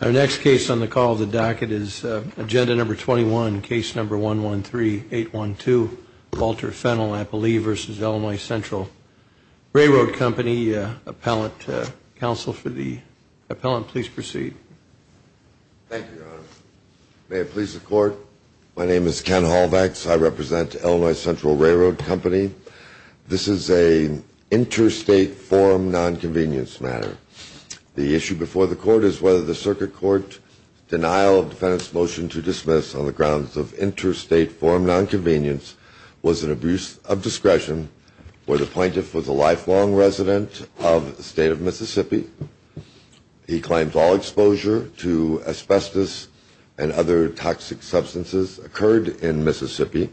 Our next case on the call of the docket is Agenda No. 21, Case No. 113812, Walter Fennell, I believe, v. Illinois Central Railroad Company. Appellant, counsel for the appellant, please proceed. Thank you, Your Honor. May it please the Court, my name is Ken Halwex, I represent Illinois Central Railroad Company. This is an interstate forum nonconvenience matter. The issue before the Court is whether the Circuit Court denial of defendant's motion to dismiss on the grounds of interstate forum nonconvenience was an abuse of discretion, or the plaintiff was a lifelong resident of the state of Mississippi. He claims all exposure to asbestos and other toxic substances occurred in Mississippi.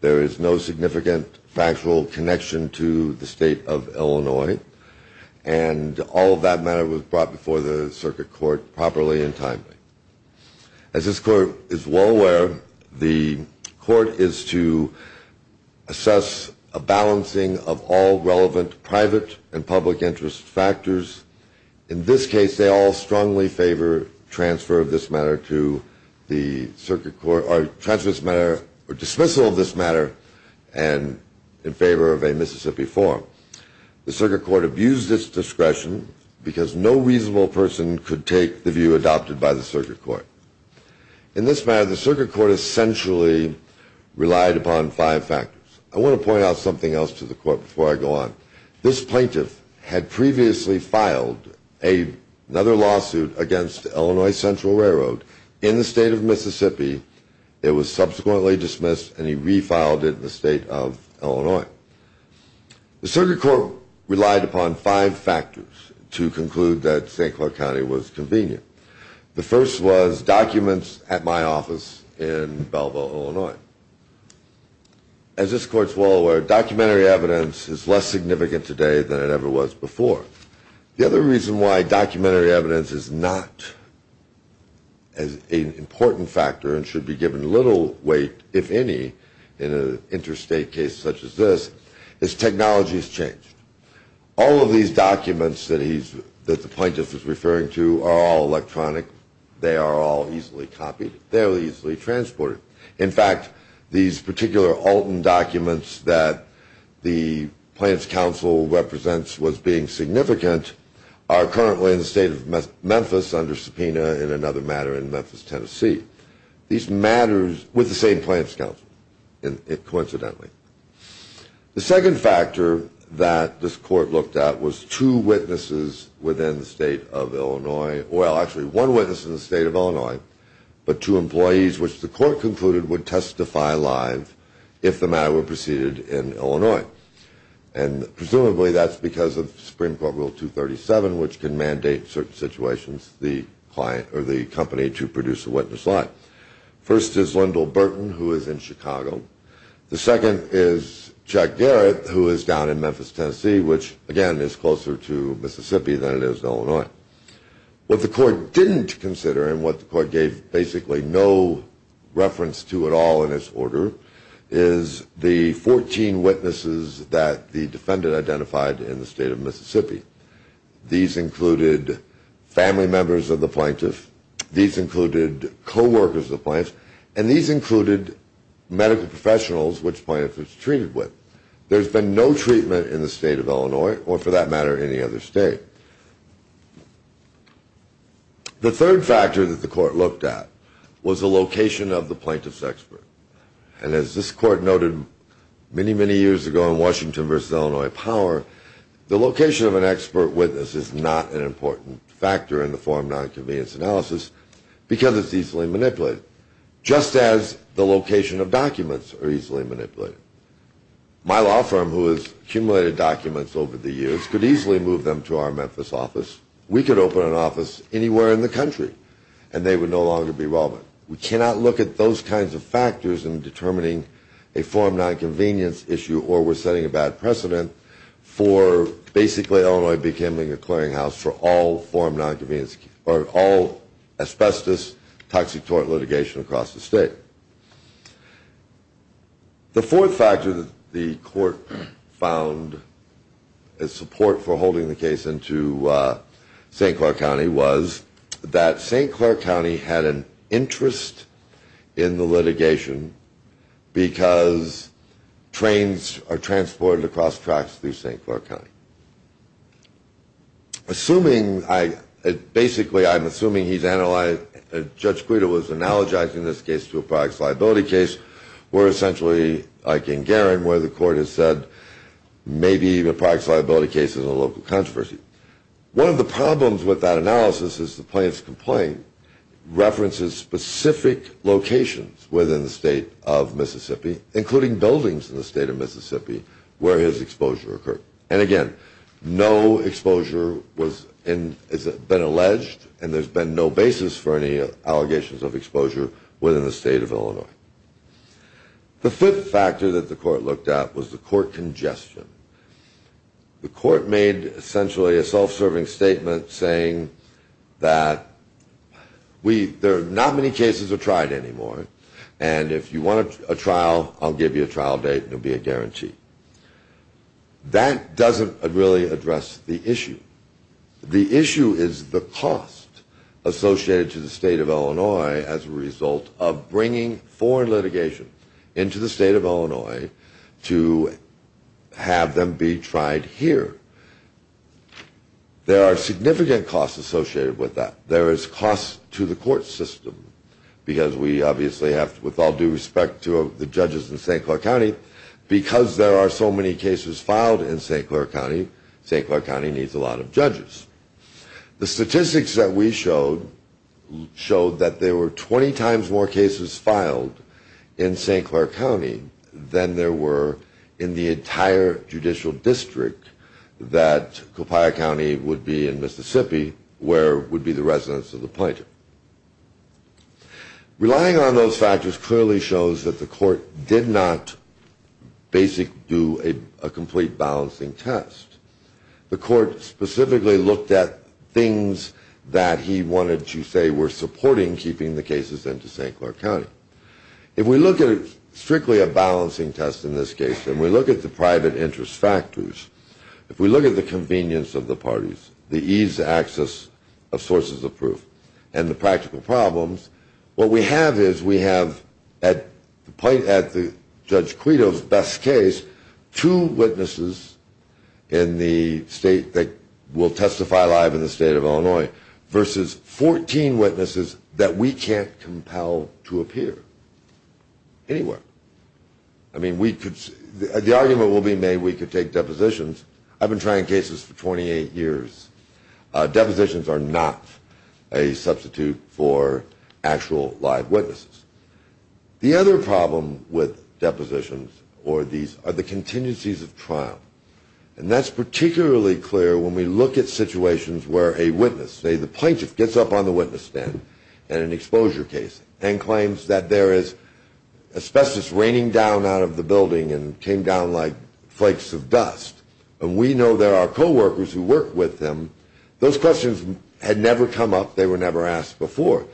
There is no significant factual connection to the state of Illinois, and all of that matter was brought before the Circuit Court properly and timely. As this Court is well aware, the Court is to assess a balancing of all relevant private and public interest factors. In this case, they all strongly favor transfer of this matter to the Circuit Court, or dismissal of this matter in favor of a Mississippi forum. The Circuit Court abused its discretion because no reasonable person could take the view adopted by the Circuit Court. In this matter, the Circuit Court essentially relied upon five factors. I want to point out something else to the Court before I go on. This plaintiff had previously filed another lawsuit against Illinois Central Railroad in the state of Mississippi. It was subsequently dismissed and he refiled it in the state of Illinois. The Circuit Court relied upon five factors to conclude that St. Clair County was convenient. The first was documents at my office in Belleville, Illinois. As this Court is well aware, documentary evidence is less significant today than it ever was before. The other reason why documentary evidence is not an important factor and should be given little weight, if any, in an interstate case such as this, is technology has changed. All of these documents that the plaintiff is referring to are all electronic. They are all easily copied. They are easily transported. In fact, these particular Alton documents that the Plaintiff's Counsel represents was being significant are currently in the state of Memphis under subpoena in another matter in Memphis, Tennessee. These matters were the same plaintiff's counsel, coincidentally. The second factor that this Court looked at was two witnesses within the state of Illinois. Well, actually, one witness in the state of Illinois, but two employees, which the Court concluded would testify live if the matter were proceeded in Illinois. Presumably, that's because of Supreme Court Rule 237, which can mandate certain situations for the company to produce a witness line. First is Lyndall Burton, who is in Chicago. The second is Chuck Garrett, who is down in Memphis, Tennessee, which, again, is closer to Mississippi than it is to Illinois. What the Court didn't consider and what the Court gave basically no reference to at all in its order is the 14 witnesses that the defendant identified in the state of Mississippi. These included family members of the Plaintiff. These included co-workers of the Plaintiff. And these included medical professionals which the Plaintiff was treated with. There's been no treatment in the state of Illinois or, for that matter, any other state. The third factor that the Court looked at was the location of the Plaintiff's expert. And as this Court noted many, many years ago in Washington v. Illinois Power, the location of an expert witness is not an important factor in the form of nonconvenience analysis because it's easily manipulated, just as the location of documents are easily manipulated. My law firm, who has accumulated documents over the years, could easily move them to our Memphis office. We could open an office anywhere in the country and they would no longer be relevant. We cannot look at those kinds of factors in determining a form of nonconvenience issue or we're setting a bad precedent for basically Illinois becoming a clearinghouse for all form of nonconvenience or all asbestos toxic tort litigation across the state. The fourth factor that the Court found as support for holding the case into St. Clair County was that St. Clair County had an interest in the litigation because trains are transported across tracks through St. Clair County. Assuming, basically I'm assuming he's analyzed, Judge Guido was analogizing this case to a products liability case where essentially, like in Garing, where the Court has said maybe the products liability case is a local controversy. One of the problems with that analysis is the Plaintiff's complaint references specific locations within the state of Mississippi, including buildings in the state of Mississippi where his exposure occurred. And again, no exposure has been alleged and there's been no basis for any allegations of exposure within the state of Illinois. The fifth factor that the Court looked at was the Court congestion. The Court made essentially a self-serving statement saying that not many cases are tried anymore and if you want a trial, I'll give you a trial date and there'll be a guarantee. That doesn't really address the issue. The issue is the cost associated to the state of Illinois as a result of bringing foreign litigation into the state of Illinois to have them be tried here. There are significant costs associated with that. There is cost to the Court system because we obviously have, with all due respect to the judges in St. Clair County, because there are so many cases filed in St. Clair County, St. Clair County needs a lot of judges. The statistics that we showed showed that there were 20 times more cases filed in St. Clair County than there were in the entire judicial district that Copiah County would be in Mississippi where would be the residence of the plaintiff. Relying on those factors clearly shows that the Court did not basically do a complete balancing test. The Court specifically looked at things that he wanted to say were supporting keeping the cases into St. Clair County. If we look at strictly a balancing test in this case and we look at the private interest factors, if we look at the convenience of the parties, the ease of access of sources of proof and the practical problems, what we have is we have at the point at the Judge Quito's best case two witnesses in the state that will testify live in the state of Illinois versus 14 witnesses that we can't compel to appear anywhere. I mean we could, the argument will be made we could take depositions. I've been trying cases for 28 years. Depositions are not a substitute for actual live witnesses. The other problem with depositions or these are the contingencies of trial. And that's particularly clear when we look at situations where a witness, say the plaintiff gets up on the witness stand and an exposure case and claims that there is asbestos raining down out of the building and came down like flakes of dust. And we know there are co-workers who work with them. Those questions had never come up. They were never asked before.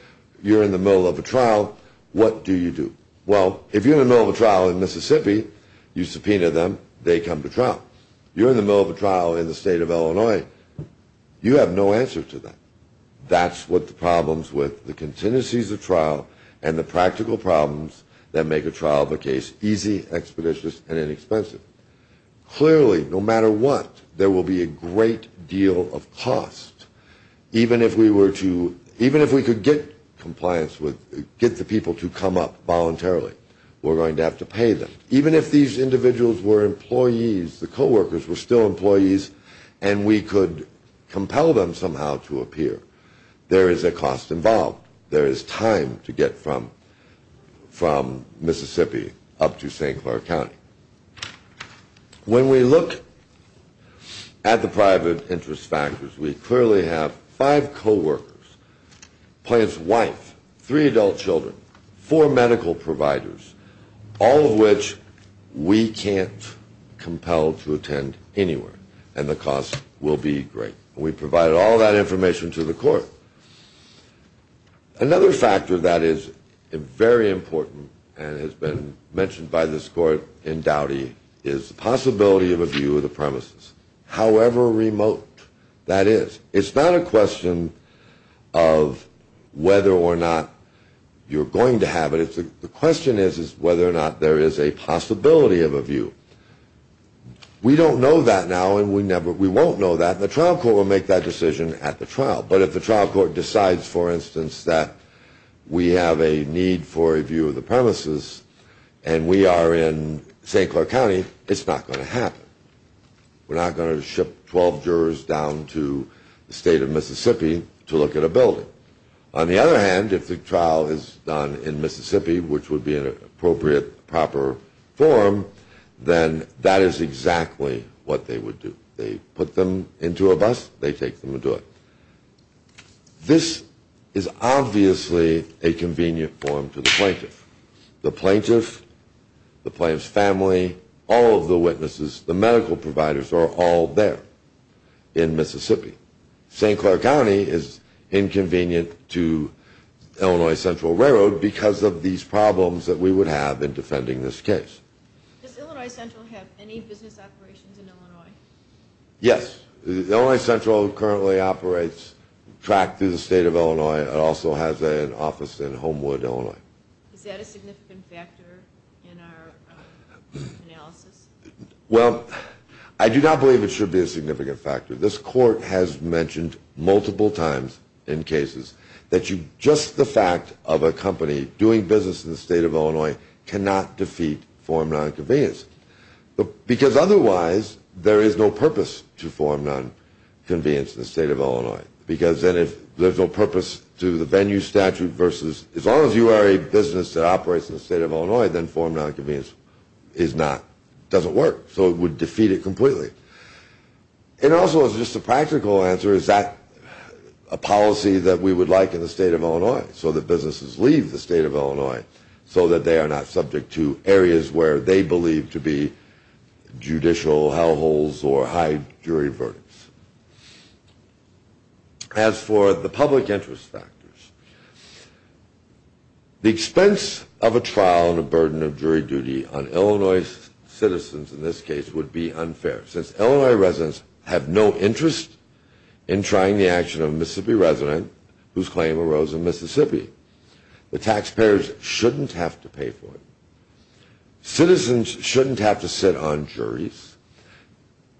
You're in the middle of a trial. What do you do? Well, if you're in the middle of a trial in Mississippi, you subpoena them. They come to trial. You're in the middle of a trial in the state of Illinois. You have no answer to that. That's what the problems with the contingencies of trial and the practical problems that make a trial of a case easy, expeditious, and inexpensive. Clearly, no matter what, there will be a great deal of cost. Even if we were to – even if we could get compliance with – get the people to come up voluntarily, we're going to have to pay them. Even if these individuals were employees, the co-workers were still employees, and we could compel them somehow to appear, there is a cost involved. There is time to get from Mississippi up to St. Clair County. When we look at the private interest factors, we clearly have five co-workers, a plaintiff's wife, three adult children, four medical providers, all of which we can't compel to attend anywhere, and the cost will be great. We provided all that information to the court. Another factor that is very important and has been mentioned by this court in Dowdy is the possibility of a view of the premises, however remote that is. It's not a question of whether or not you're going to have it. The question is whether or not there is a possibility of a view. We don't know that now, and we won't know that. The trial court will make that decision at the trial, but if the trial court decides, for instance, that we have a need for a view of the premises and we are in St. Clair County, it's not going to happen. We're not going to ship 12 jurors down to the state of Mississippi to look at a building. On the other hand, if the trial is done in Mississippi, which would be an appropriate, proper forum, then that is exactly what they would do. They put them into a bus, they take them to it. This is obviously a convenient forum for the plaintiff. The plaintiff, the plaintiff's family, all of the witnesses, the medical providers are all there in Mississippi. St. Clair County is inconvenient to Illinois Central Railroad because of these problems that we would have in defending this case. Does Illinois Central have any business operations in Illinois? Yes. Illinois Central currently operates track through the state of Illinois. It also has an office in Homewood, Illinois. Is that a significant factor in our analysis? Well, I do not believe it should be a significant factor. This court has mentioned multiple times in cases that just the fact of a company doing business in the state of Illinois cannot defeat forum nonconvenience. Because otherwise, there is no purpose to forum nonconvenience in the state of Illinois. Because then if there's no purpose to the venue statute versus as long as you are a business that operates in the state of Illinois, then forum nonconvenience is not, doesn't work. So it would defeat it completely. And also as just a practical answer, is that a policy that we would like in the state of Illinois? So that businesses leave the state of Illinois so that they are not subject to areas where they believe to be judicial hell holes or high jury verdicts. As for the public interest factors, the expense of a trial and a burden of jury duty on Illinois citizens in this case would be unfair. Since Illinois residents have no interest in trying the action of a Mississippi resident whose claim arose in Mississippi, the taxpayers shouldn't have to pay for it. Citizens shouldn't have to sit on juries.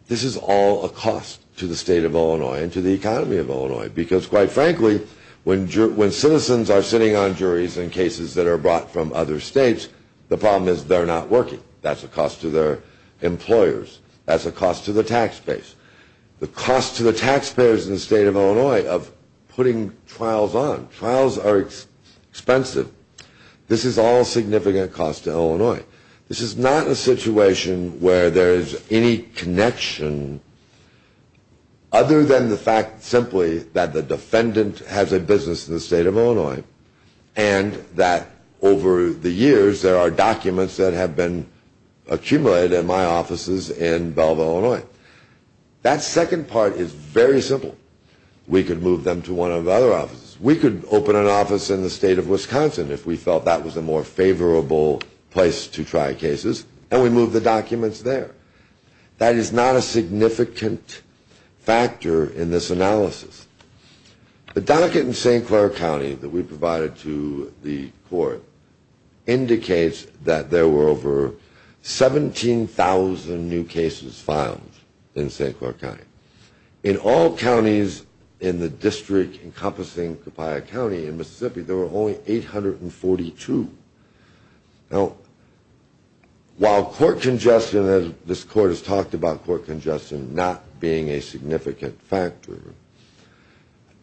This is all a cost to the state of Illinois and to the economy of Illinois. Because quite frankly, when citizens are sitting on juries in cases that are brought from other states, the problem is they're not working. That's a cost to their employers. That's a cost to the taxpayers. The cost to the taxpayers in the state of Illinois of putting trials on. Trials are expensive. This is all significant cost to Illinois. This is not a situation where there is any connection other than the fact simply that the defendant has a business in the state of Illinois and that over the years there are documents that have been accumulated in my offices in Belleville, Illinois. That second part is very simple. We could move them to one of the other offices. We could open an office in the state of Wisconsin if we felt that was a more favorable place to try cases, and we move the documents there. That is not a significant factor in this analysis. The docket in St. Clair County that we provided to the court indicates that there were over 17,000 new cases filed in St. Clair County. In all counties in the district encompassing Copiah County in Mississippi, there were only 842. Now, while court congestion, as this court has talked about court congestion not being a significant factor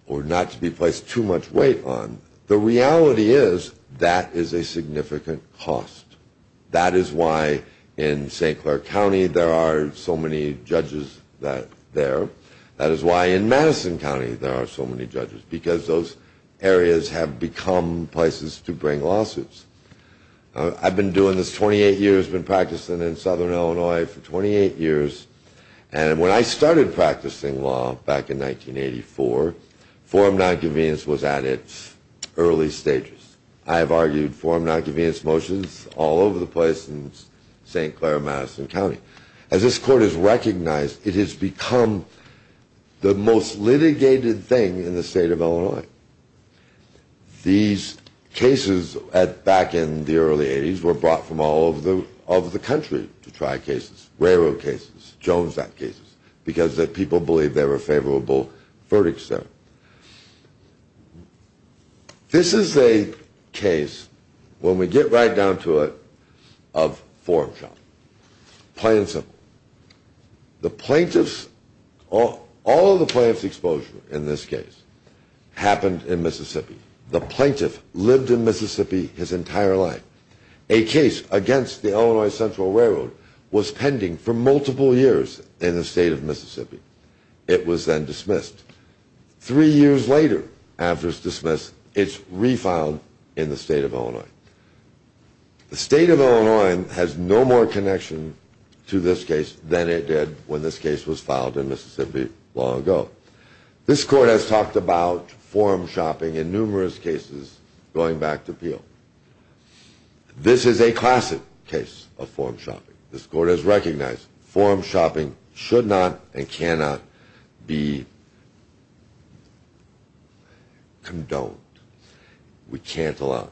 or not to be placed too much weight on, the reality is that is a significant cost. That is why in St. Clair County there are so many judges there. That is why in Madison County there are so many judges because those areas have become places to bring lawsuits. I've been doing this 28 years, been practicing in southern Illinois for 28 years, and when I started practicing law back in 1984, forum nonconvenience was at its early stages. I have argued forum nonconvenience motions all over the place in St. Clair, Madison County. As this court has recognized, it has become the most litigated thing in the state of Illinois. These cases back in the early 80s were brought from all over the country to try cases, railroad cases, Jones Act cases, because the people believed they were favorable verdicts there. This is a case, when we get right down to it, of forum shop. Plain and simple. The plaintiff's, all of the plaintiff's exposure in this case happened in Mississippi. The plaintiff lived in Mississippi his entire life. A case against the Illinois Central Railroad was pending for multiple years in the state of Mississippi. It was then dismissed. Three years later, after it's dismissed, it's refiled in the state of Illinois. The state of Illinois has no more connection to this case than it did when this case was filed in Mississippi long ago. This court has talked about forum shopping in numerous cases going back to Peel. This is a classic case of forum shopping. This court has recognized forum shopping should not and cannot be condoned. We can't allow it.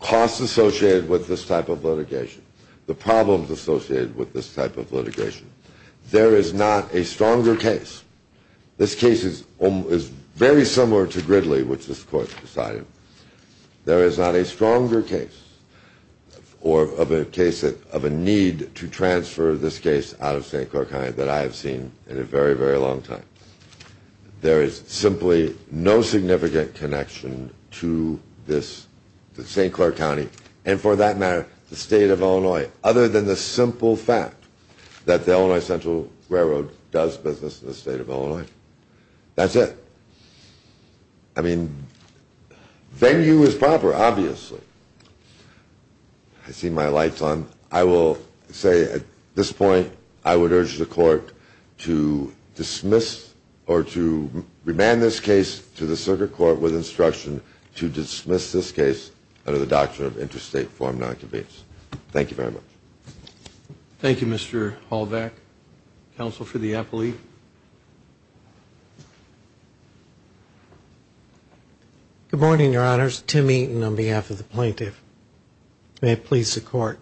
The costs associated with this type of litigation, the problems associated with this type of litigation, there is not a stronger case. This case is very similar to Gridley, which this court decided. There is not a stronger case or a case of a need to transfer this case out of St. Clair County that I have seen in a very, very long time. There is simply no significant connection to this, to St. Clair County, and for that matter, the state of Illinois, other than the simple fact that the Illinois Central Railroad does business in the state of Illinois. That's it. I mean, venue is proper, obviously. I see my light's on. I will say at this point I would urge the court to dismiss or to remand this case to the circuit court with instruction to dismiss this case under the doctrine of interstate forum nonconvence. Thank you very much. Thank you, Mr. Holvac. Counsel for the appellee. Good morning, Your Honors. Tim Eaton on behalf of the plaintiff. May it please the court.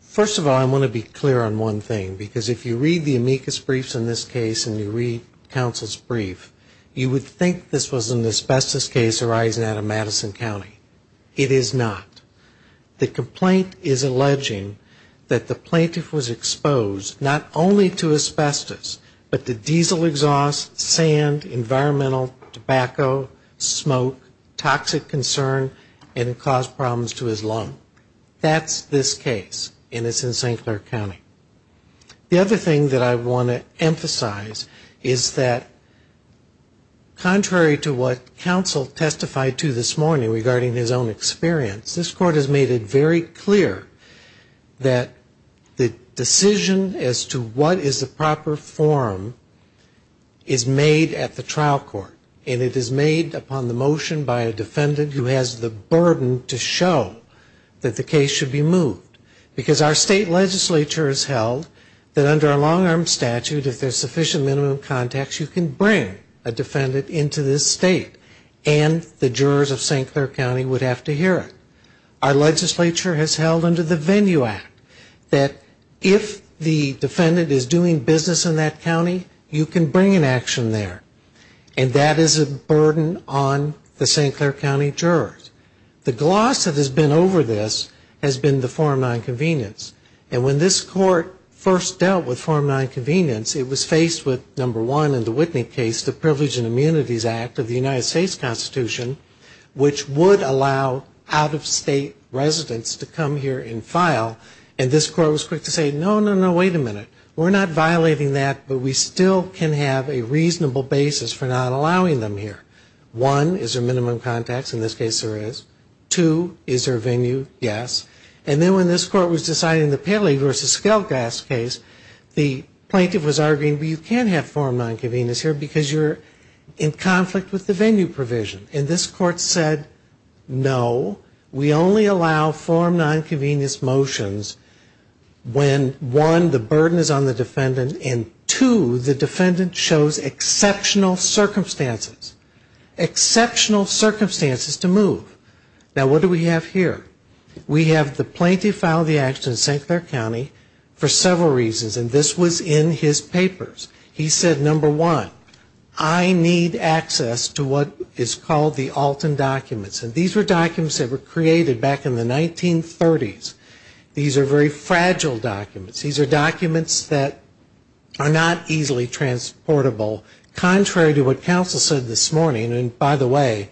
First of all, I want to be clear on one thing, because if you read the amicus briefs in this case and you read counsel's brief, you would think this was an asbestos case arising out of Madison County. It is not. The complaint is alleging that the plaintiff was exposed not only to asbestos, but to diesel exhaust, sand, environmental, tobacco, smoke, toxic concern, and caused problems to his lung. That's this case, and it's in St. Clair County. The other thing that I want to emphasize is that contrary to what counsel testified to this morning regarding his own experience, this court has made it very clear that the decision as to what is the proper forum is made at the trial court, and it is made upon the motion by a defendant who has the burden to show that the case should be moved. Because our state legislature has held that under a long-arm statute, if there's sufficient minimum contacts, you can bring a defendant into this state, and the jurors of St. Clair County would have to hear it. Our legislature has held under the Venue Act that if the defendant is doing business in that county, you can bring an action there, and that is a burden on the St. Clair County jurors. The gloss that has been over this has been the Form 9 convenience, and when this court first dealt with Form 9 convenience, it was faced with, number one, in the Whitney case, the Privilege and Immunities Act of the United States Constitution, which would allow out-of-state residents to come here and file, and this court was quick to say, no, no, no, wait a minute. We're not violating that, but we still can have a reasonable basis for not allowing them here. One, is there minimum contacts? In this case, there is. Two, is there a venue? Yes. And then when this court was deciding the Paley v. Skelgas case, the plaintiff was arguing, well, you can't have Form 9 convenience here because you're in conflict with the venue provision, and this court said, no, we only allow Form 9 convenience motions when, one, the burden is on the defendant, and two, the defendant shows exceptional circumstances, exceptional circumstances to move. Now, what do we have here? We have the plaintiff filed the action in St. Clair County for several reasons, and this was in his papers. He said, number one, I need access to what is called the Alton documents, and these were documents that were created back in the 1930s. These are very fragile documents. These are documents that are not easily transportable, contrary to what counsel said this morning, and by the way,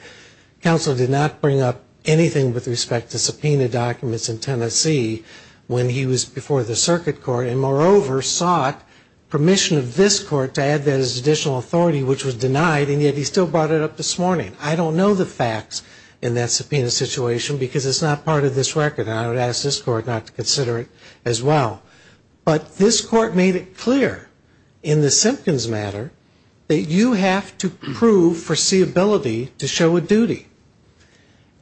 counsel did not bring up anything with respect to subpoena documents in Tennessee when he was before the circuit court, and moreover, sought permission of this court to add that as additional authority, which was denied, and yet he still brought it up this morning. I don't know the facts in that subpoena situation because it's not part of this record, and I would ask this court not to consider it as well. But this court made it clear in the Simpkins matter that you have to prove foreseeability to show a duty,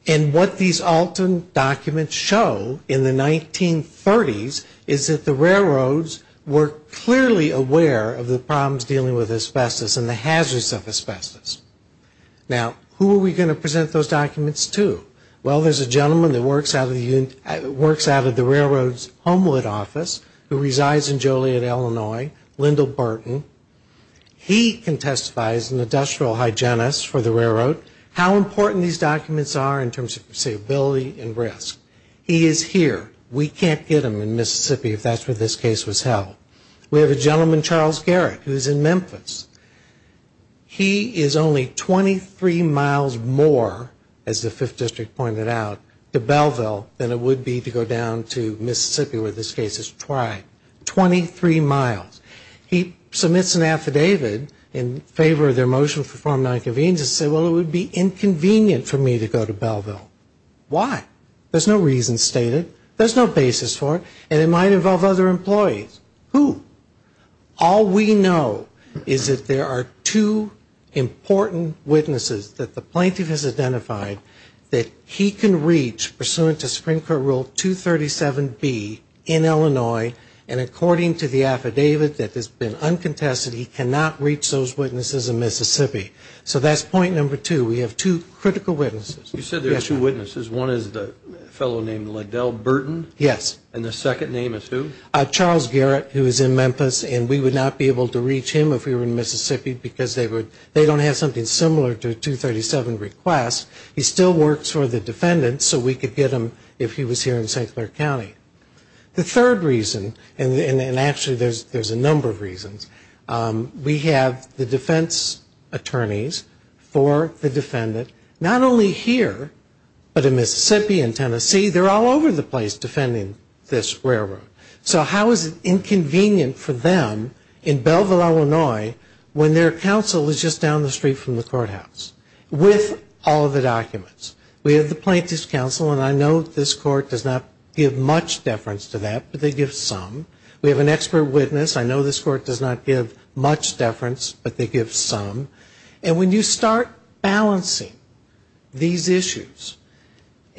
and what these Alton documents show in the 1930s is that the railroads were clearly aware of the problems dealing with asbestos and the hazards of asbestos. Now, who are we going to present those documents to? Well, there's a gentleman that works out of the railroad's Homewood office who resides in Joliet, Illinois, Lyndall Burton. He can testify as an industrial hygienist for the railroad how important these documents are in terms of foreseeability and risk. He is here. We can't get him in Mississippi if that's where this case was held. We have a gentleman, Charles Garrett, who is in Memphis. He is only 23 miles more, as the 5th District pointed out, to Belleville than it would be to go down to Mississippi where this case is tried. Twenty-three miles. He submits an affidavit in favor of their motion to perform nonconvenience and said, well, it would be inconvenient for me to go to Belleville. Why? There's no reason stated. There's no basis for it, and it might involve other employees. Who? All we know is that there are two important witnesses that the plaintiff has identified that he can reach pursuant to Supreme Court Rule 237B in Illinois, and according to the affidavit that has been uncontested, he cannot reach those witnesses in Mississippi. So that's point number two. We have two critical witnesses. You said there are two witnesses. One is a fellow named Liddell Burton. Yes. And the second name is who? Charles Garrett, who is in Memphis, and we would not be able to reach him if we were in Mississippi, because they don't have something similar to a 237 request. He still works for the defendant, so we could get him if he was here in St. Clair County. The third reason, and actually there's a number of reasons, we have the defense attorneys for the defendant, not only here, but in Mississippi and Tennessee. They're all over the place defending this railroad. So how is it inconvenient for them in Belleville, Illinois, when their counsel is just down the street from the courthouse with all of the documents? We have the plaintiff's counsel, and I know this court does not give much deference to that, but they give some. We have an expert witness. I know this court does not give much deference, but they give some. And when you start balancing these issues,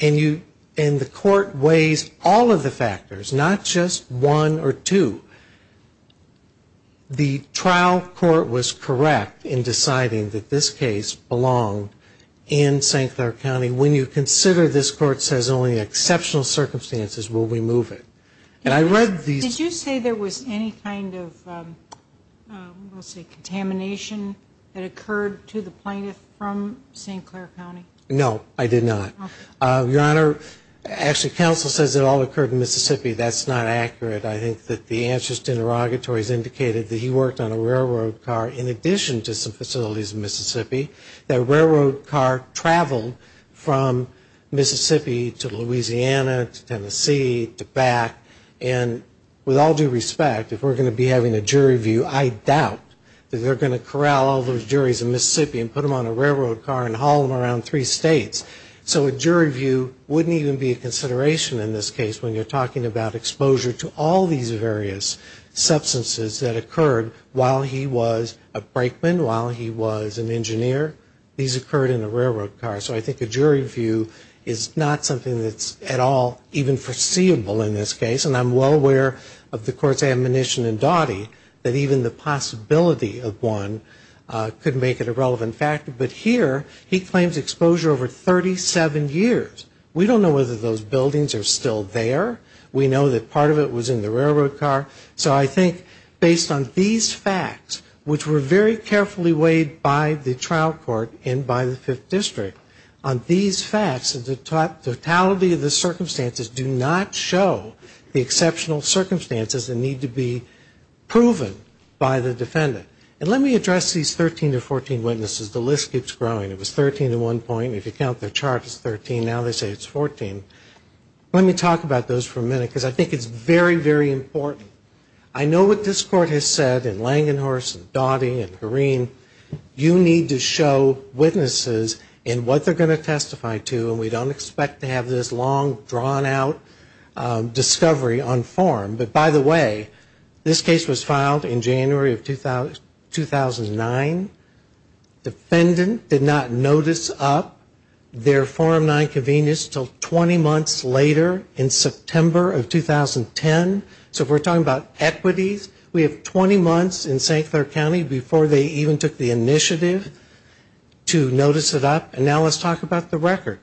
and the court weighs all of the factors, not just one or two, the trial court was correct in deciding that this case belonged in St. Clair County. When you consider this court says only in exceptional circumstances will we move it. Did you say there was any kind of contamination that occurred to the plaintiff from St. Clair County? No, I did not. Your Honor, actually counsel says it all occurred in Mississippi. That's not accurate. I think that the answers to interrogatories indicated that he worked on a railroad car in addition to some facilities in Mississippi, that railroad car traveled from Mississippi to Louisiana, to Tennessee, to back. And with all due respect, if we're going to be having a jury view, I doubt that they're going to corral all those juries in Mississippi and put them on a railroad car and haul them around three states. So a jury view wouldn't even be a consideration in this case when you're talking about exposure to all these various substances that occurred while he was a brakeman, while he was an engineer. These occurred in a railroad car. So I think a jury view is not something that's at all even foreseeable in this case. And I'm well aware of the court's admonition in Dottie that even the possibility of one could make it a relevant factor. But here he claims exposure over 37 years. We don't know whether those buildings are still there. We know that part of it was in the railroad car. So I think based on these facts, which were very carefully weighed by the trial court and by the Fifth District, on these facts, the totality of the circumstances do not show the exceptional circumstances that need to be proven by the defendant. And let me address these 13 to 14 witnesses. The list keeps growing. It was 13 at one point. If you count their chart, it's 13. Now they say it's 14. Let me talk about those for a minute, because I think it's very, very important. I know what this court has said in Langenhorst and Dottie and Corrine, you need to show witnesses in what they're going to testify to. And we don't expect to have this long, drawn-out discovery on forum. But by the way, this case was filed in January of 2009. Defendant did not notice up their forum nonconvenience until 20 months later in September of 2010. So if we're talking about equities, we have 20 months in St. Clair County before they even took the initiative to notice it up. And now let's talk about the record.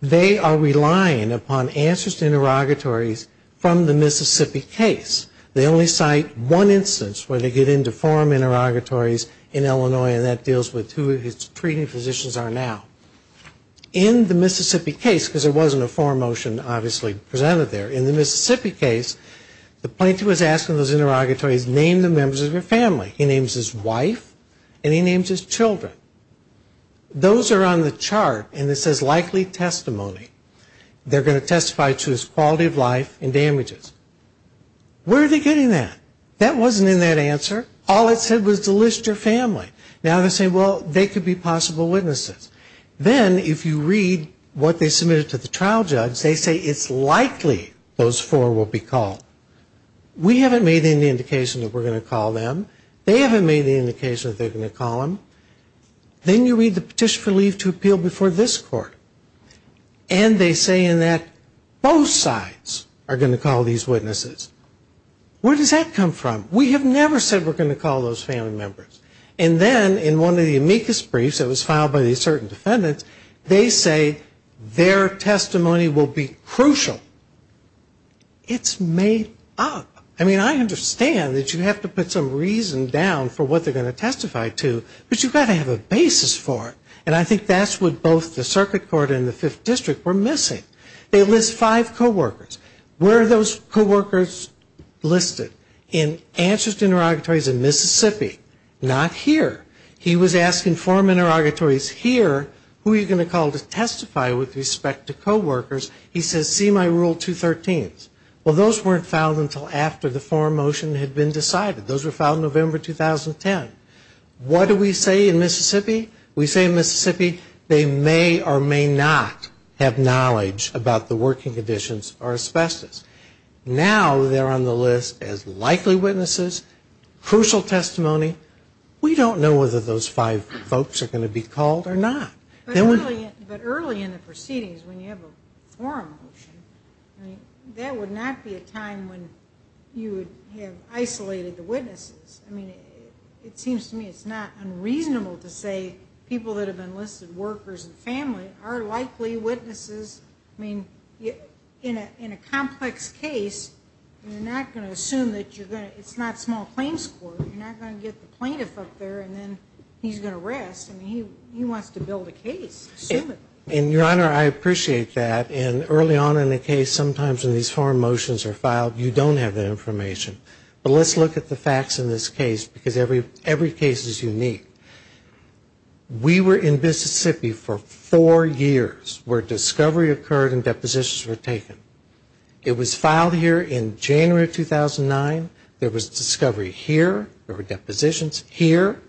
They are relying upon answers to interrogatories from the Mississippi case. They only cite one instance where they get into forum interrogatories in Illinois, and that deals with who his treating physicians are now. In the Mississippi case, because there wasn't a forum motion obviously presented there, in the Mississippi case, the plaintiff was asking those interrogatories, name the members of your family. He names his wife, and he names his children. Those are on the chart, and it says likely testimony. They're going to testify to his quality of life and damages. Where are they getting that? That wasn't in that answer. All it said was to list your family. Now they say, well, they could be possible witnesses. Then if you read what they submitted to the trial judge, they say it's likely those four will be called. We haven't made any indication that we're going to call them. They haven't made any indication that they're going to call them. Then you read the petition for leave to appeal before this court, and they say in that both sides are going to call these witnesses. Where does that come from? We have never said we're going to call those family members. And then in one of the amicus briefs that was filed by these certain defendants, they say their testimony will be crucial. It's made up. I mean, I understand that you have to put some reason down for what they're going to testify to, but you've got to have a basis for it. And I think that's what both the circuit court and the fifth district were missing. They list five coworkers. Where are those coworkers listed? In answers to interrogatories in Mississippi. Not here. He was asking forum interrogatories here, who are you going to call to testify with respect to coworkers? He says, see my rule 213s. Well, those weren't filed until after the forum motion had been decided. Those were filed November 2010. What do we say in Mississippi? We say in Mississippi they may or may not have knowledge about the working conditions or asbestos. Now they're on the list as likely witnesses, crucial testimony. We don't know whether those five folks are going to be called or not. But early in the proceedings when you have a forum motion, that would not be a time when you would have isolated the witnesses. I mean, it seems to me it's not unreasonable to say people that have been listed, workers and family, are likely witnesses. I mean, in a complex case, you're not going to assume that you're going to, it's not small claims court. You're not going to get the plaintiff up there and then he's going to rest. I mean, he wants to build a case. And, Your Honor, I appreciate that. And early on in the case, sometimes when these forum motions are filed, you don't have that information. But let's look at the facts in this case because every case is unique. We were in Mississippi for four years where discovery occurred and depositions were taken. It was filed here in January of 2009. There was discovery here. There were depositions here.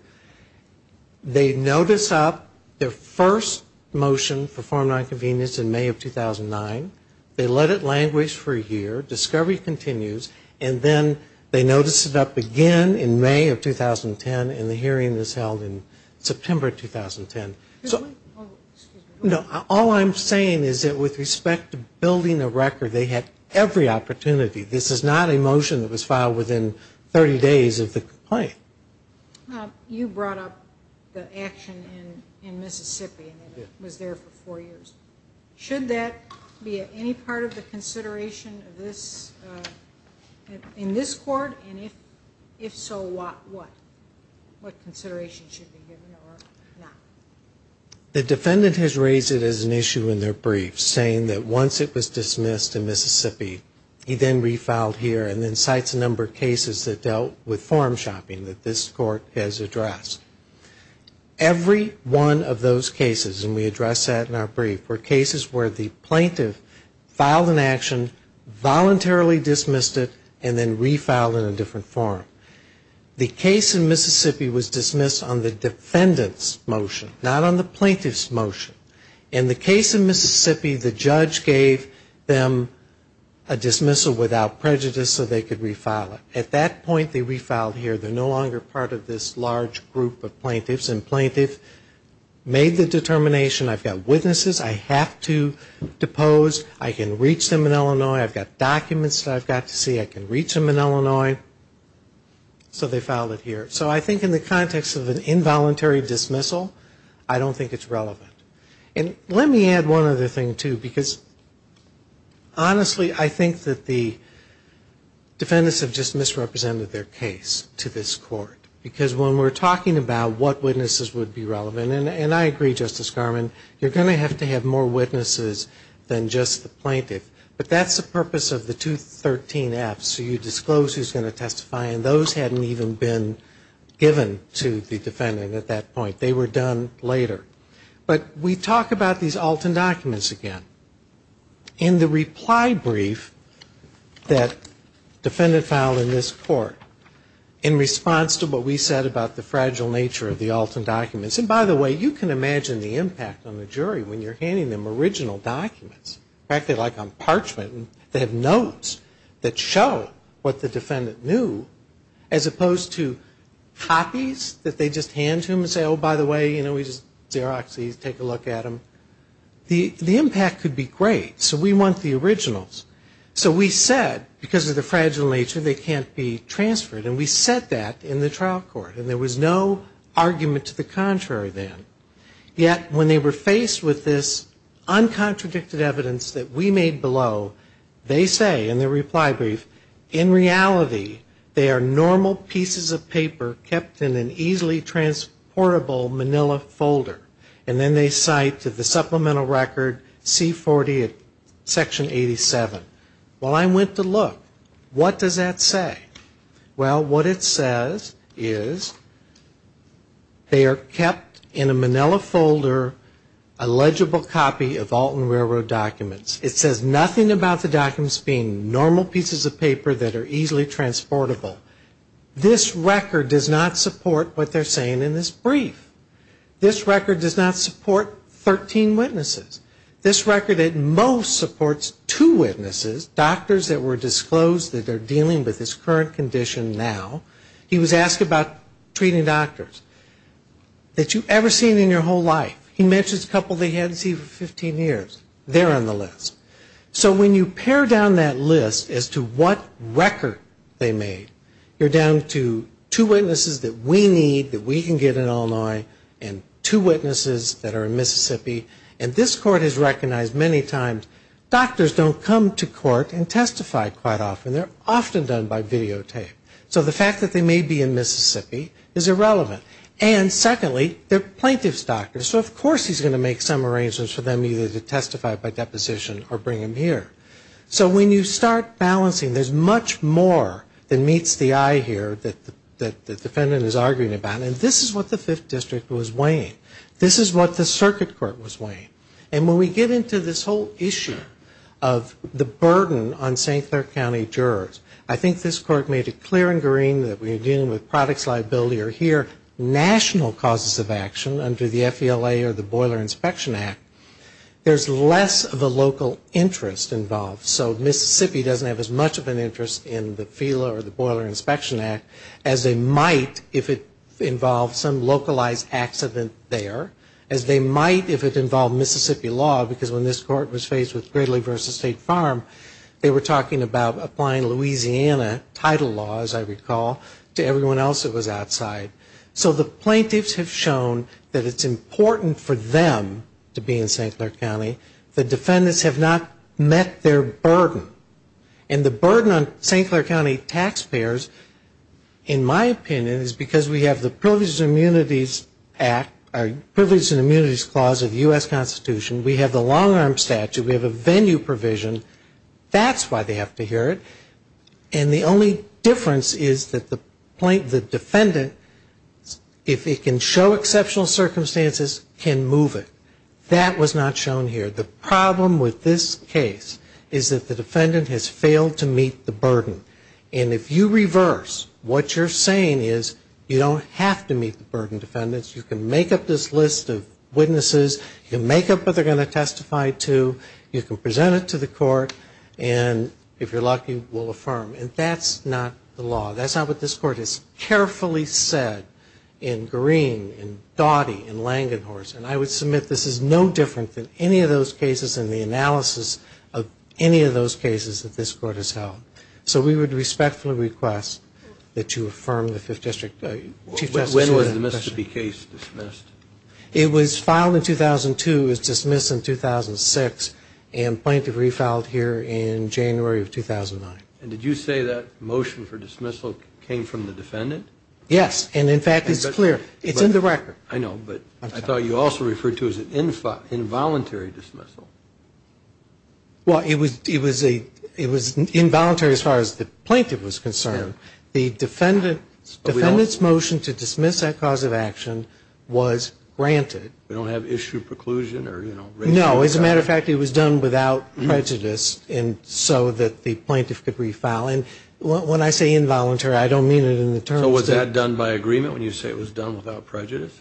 They notice up their first motion for forum nonconvenience in May of 2009. They let it languish for a year. Discovery continues. And then they notice it up again in May of 2010 and the hearing is held in September of 2010. All I'm saying is that with respect to building a record, they had every opportunity. This is not a motion that was filed within 30 days of the complaint. You brought up the action in Mississippi and it was there for four years. Should that be any part of the consideration in this court? And if so, what? What consideration should be given or not? The defendant has raised it as an issue in their brief, saying that once it was dismissed in Mississippi, he then refiled here and then cites a number of cases that dealt with forum shopping that this court has addressed. Every one of those cases, and we address that in our brief, were cases where the plaintiff filed an action, voluntarily dismissed it, and then refiled in a different forum. The case in Mississippi was dismissed on the defendant's motion, not on the plaintiff's motion. In the case in Mississippi, the judge gave them a dismissal without prejudice so they could refile it. At that point, they refiled here. They're no longer part of this large group of plaintiffs, and plaintiff made the determination, I've got witnesses I have to depose, I can reach them in Illinois, I've got documents that I've got to see, I can reach them in Illinois, so they filed it here. So I think in the context of an involuntary dismissal, I don't think it's relevant. And let me add one other thing, too, because honestly, I think that the defendants have just misrepresented their case to this court. Because when we're talking about what witnesses would be relevant, and I agree, Justice Garmon, you're going to have to have more witnesses than just the plaintiff, but that's the purpose of the 213F, so you disclose who's going to testify, and those hadn't even been given to the defendant at that point. They were done later. But we talk about these Alton documents again. In the reply brief that defendant filed in this court, in response to what we said about the fragile nature of the Alton documents, and by the way, you can imagine the impact on the jury when you're handing them original documents. In fact, they're like on parchment. They have notes that show what the defendant knew, as opposed to copies that they just hand to them and say, oh, by the way, you know, we just Xeroxed these, take a look at them. The impact could be great, so we want the originals. So we said, because of the fragile nature, they can't be transferred, and we said that in the trial court, and there was no argument to the contrary then. Yet when they were faced with this uncontradicted evidence that we made below, they say in the reply brief, in reality, they are normal pieces of paper kept in an easily transportable manila folder. And then they cite to the supplemental record C40 at section 87. Well, I went to look. What does that say? Well, what it says is they are kept in a manila folder, a legible copy of Alton Railroad documents. It says nothing about the documents being normal pieces of paper that are easily transportable. This record does not support what they're saying in this brief. This record does not support 13 witnesses. This record at most supports two witnesses, doctors that were disclosed that they're dealing with this current condition now. He was asked about treating doctors. That you've ever seen in your whole life. He mentions a couple he hadn't seen in 15 years. They're on the list. So when you pare down that list as to what record they made, you're down to two witnesses that we need that we can get in Illinois and two witnesses that are in Mississippi. And this court has recognized many times doctors don't come to court and testify quite often. They're often done by videotape. So the fact that they may be in Mississippi is irrelevant. And secondly, they're plaintiff's doctors. So of course he's going to make some arrangements for them either to testify by deposition or bring them here. So when you start balancing, there's much more than meets the eye here that the defendant is arguing about. This is what the circuit court was weighing. And when we get into this whole issue of the burden on St. Clair County jurors, I think this court made it clear and green that we're dealing with products liability or here national causes of action under the FELA or the Boiler Inspection Act. There's less of a local interest involved. So Mississippi doesn't have as much of an interest in the FELA or the Boiler Inspection Act as they might if it involved some localized accident there as they might if it involved Mississippi law. Because when this court was faced with Gridley v. State Farm, they were talking about applying Louisiana title law as I recall to everyone else that was outside. So the plaintiffs have shown that it's important for them to be in St. Clair County. The defendants have not met their burden. And the burden on St. Clair County taxpayers, in my opinion, is because we have the Privileges and Immunities Act or Privileges and Immunities Clause of the U.S. Constitution. We have the long-arm statute. We have a venue provision. That's why they have to hear it. And the only difference is that the defendant, if it can show exceptional circumstances, can move it. That was not shown here. The problem with this case is that the defendant has failed to meet the burden. And if you reverse, what you're saying is you don't have to meet the burden, defendants. You can make up this list of witnesses. You can make up what they're going to testify to. You can present it to the court. And if you're lucky, we'll affirm. And that's not the law. It was filed in 2002. It was dismissed in 2006. And Plaintiff refiled here in January of 2009. And did you say that motion for dismissal came from the defendant? Yes, and in fact, it's clear. It's in the record. I know, but I thought you also referred to it as an involuntary dismissal. Well, it was involuntary as far as the plaintiff was concerned. The defendant's motion to dismiss that cause of action was granted. We don't have issue preclusion? No, as a matter of fact, it was done without prejudice so that the plaintiff could refile. And when I say involuntary, I don't mean it in the terms. So was that done by agreement when you say it was done without prejudice?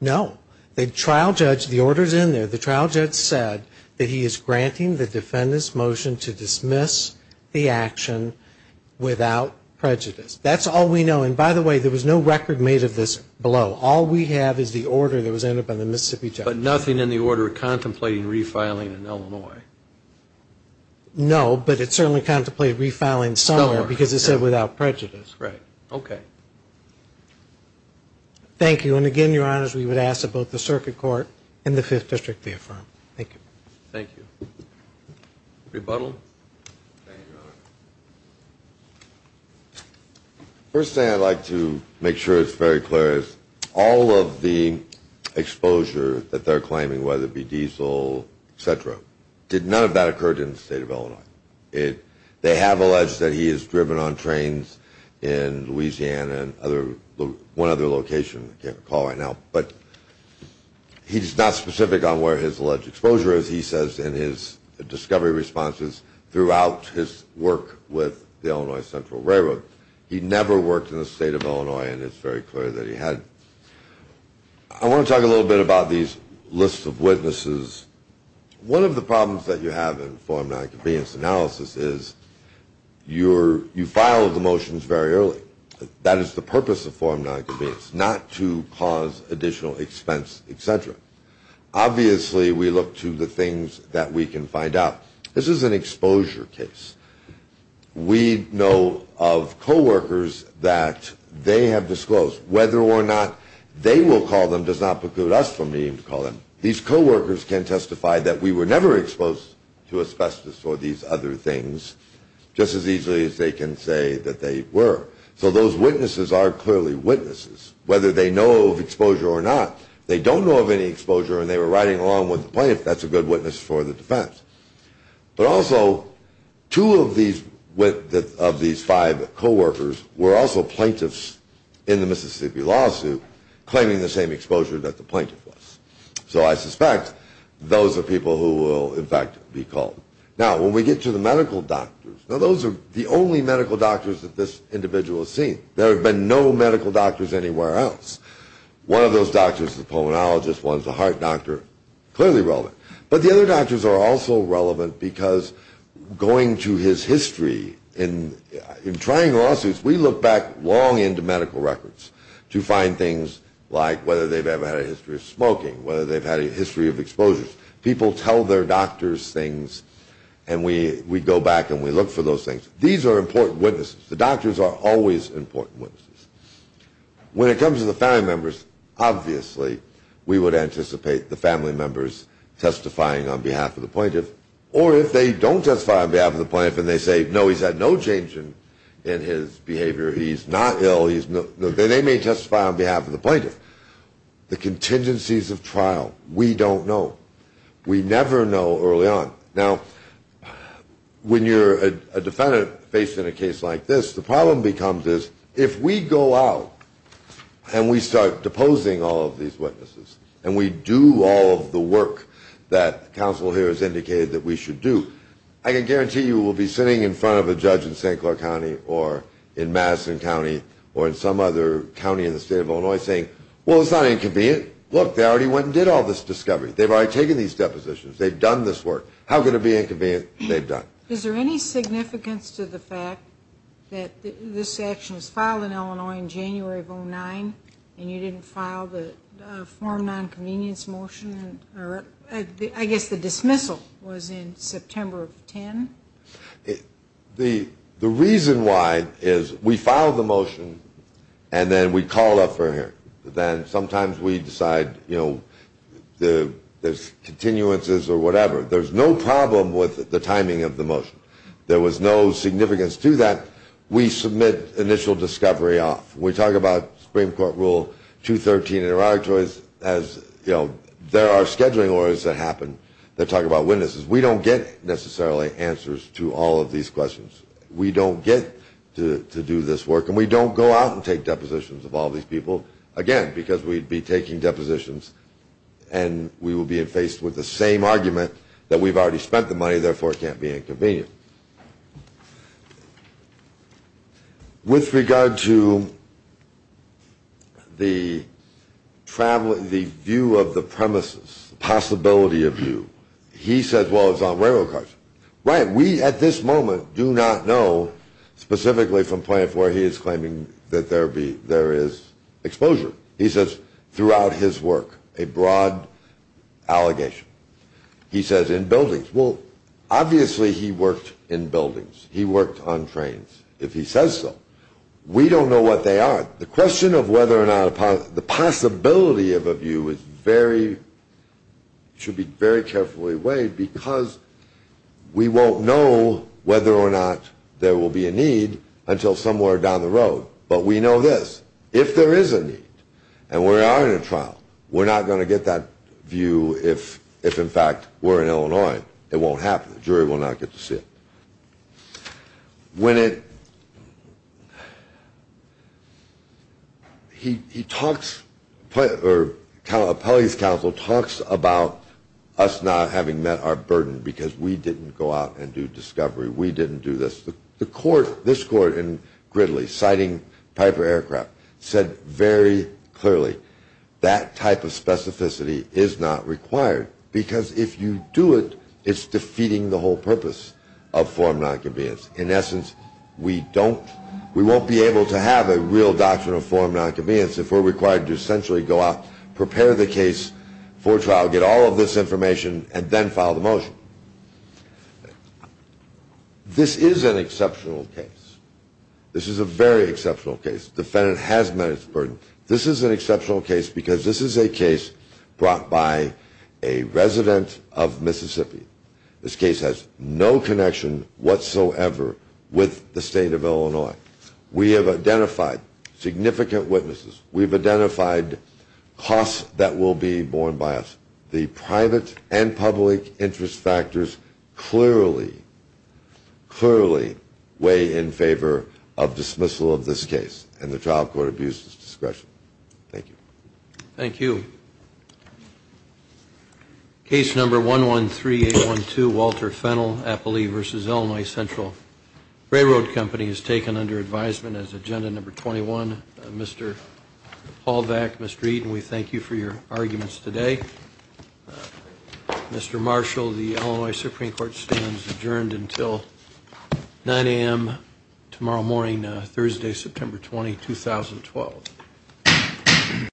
No. The trial judge, the order's in there. The trial judge said that he is granting the defendant's motion to dismiss the action without prejudice. That's all we know. And by the way, there was no record made of this below. All we have is the order that was entered by the Mississippi judge. But nothing in the order contemplating refiling in Illinois? No, but it certainly contemplated refiling somewhere because it said without prejudice. Right. Okay. Thank you. And again, Your Honors, we would ask that both the Circuit Court and the Fifth District be affirmed. Thank you. Rebuttal? First thing I'd like to make sure is very clear is all of the exposure that they're claiming, whether it be diesel, et cetera, none of that occurred in the state of Illinois. They have alleged that he has driven on trains in Louisiana and one other location, I can't recall right now. But he's not specific on where his alleged exposure is, he says, in his discovery responses throughout his work with the Illinois Central Railroad. He never worked in the state of Illinois, and it's very clear that he had. I want to talk a little bit about these lists of witnesses. One of the problems that you have in form nonconvenience analysis is you file the motions very early. That is the purpose of form nonconvenience, not to cause additional expense, et cetera. Obviously, we look to the things that we can find out. This is an exposure case. We know of coworkers that they have disclosed. Whether or not they will call them does not preclude us from needing to call them. These coworkers can testify that we were never exposed to asbestos or these other things, just as easily as they can say that they were. So those witnesses are clearly witnesses. Whether they know of exposure or not, if they don't know of any exposure and they were riding along with the plaintiff, that's a good witness for the defense. But also, two of these five coworkers were also plaintiffs in the Mississippi lawsuit, claiming the same exposure that the plaintiff was. So I suspect those are people who will, in fact, be called. Now, when we get to the medical doctors, now those are the only medical doctors that this individual has seen. There have been no medical doctors anywhere else. One of those doctors is a pulmonologist. One is a heart doctor. Clearly relevant. But the other doctors are also relevant because going to his history in trying lawsuits, we look back long into medical records to find things like whether they've ever had a history of smoking, whether they've had a history of exposures. People tell their doctors things and we go back and we look for those things. These are important witnesses. The doctors are always important witnesses. When it comes to the family members, obviously we would anticipate the family members testifying on behalf of the plaintiff. Or if they don't testify on behalf of the plaintiff and they say, no, he's had no change in his behavior, he's not ill, they may testify on behalf of the plaintiff. The contingencies of trial, we don't know. We never know early on. Now, when you're a defendant faced in a case like this, the problem becomes is if we go out and we start deposing all of these witnesses and we do all of the work that counsel here has indicated that we should do, I can guarantee you we'll be sitting in front of a judge in St. Clair County or in Madison County or in some other county in the state of Illinois saying, well, it's not inconvenient. Look, they already went and did all this discovery. They've already taken these depositions. They've done this work. How could it be inconvenient? They've done. Is there any significance to the fact that this action was filed in Illinois in January of 09 and you didn't file the form of nonconvenience motion? I guess the dismissal was in September of 10. The reason why is we filed the motion and then we called up for hearing. Then sometimes we decide there's continuances or whatever. There's no problem with the timing of the motion. There was no significance to that. We submit initial discovery off. We talk about Supreme Court Rule 213 as there are scheduling orders that happen that talk about witnesses. We don't get necessarily answers to all of these questions. We don't get to do this work and we don't go out and take depositions of all these people, again, because we'd be taking depositions and we would be faced with the same argument that we've already spent the money, therefore it can't be inconvenient. With regard to the view of the premises, possibility of view, he says, well, it's on railroad cars. Right, we at this moment do not know specifically from point of where he is claiming that there is exposure. He says throughout his work, a broad allegation. He says in buildings. Well, obviously he worked in buildings. He worked on trains, if he says so. We don't know what they are. The question of whether or not the possibility of a view should be very carefully weighed because we won't know whether or not there will be a need until somewhere down the road. But we know this, if there is a need and we are in a trial, we're not going to get that view if, in fact, we're in Illinois. It won't happen. The jury will not get to see it. He talks, the appellate counsel talks about us not having met our burden because we didn't go out and do discovery, we didn't do this. The court, this court in Gridley, citing Piper Aircraft, said very clearly that type of specificity is not required because if you do it, it's defeating the whole purpose of form non-convenience. In essence, we won't be able to have a real doctrine of form non-convenience if we're required to essentially go out, prepare the case for trial, get all of this information and then file the motion. This is an exceptional case. This is a very exceptional case. The defendant has met its burden. This is an exceptional case because this is a case brought by a resident of Mississippi. This case has no connection whatsoever with the state of Illinois. We have identified significant witnesses. We've identified costs that will be borne by us. The private and public interest factors clearly, clearly weigh in favor of dismissal of this case and the trial court abuses discretion. Thank you. Case number 113812, Walter Fennell, Appali versus Illinois Central Railroad Company is taken under advisement as agenda number 21. Mr. Hallback, Mr. Eaton, we thank you for your arguments today. Mr. Marshall, the Illinois Supreme Court stands adjourned until 9 a.m. tomorrow morning, Thursday, September 20, 2012.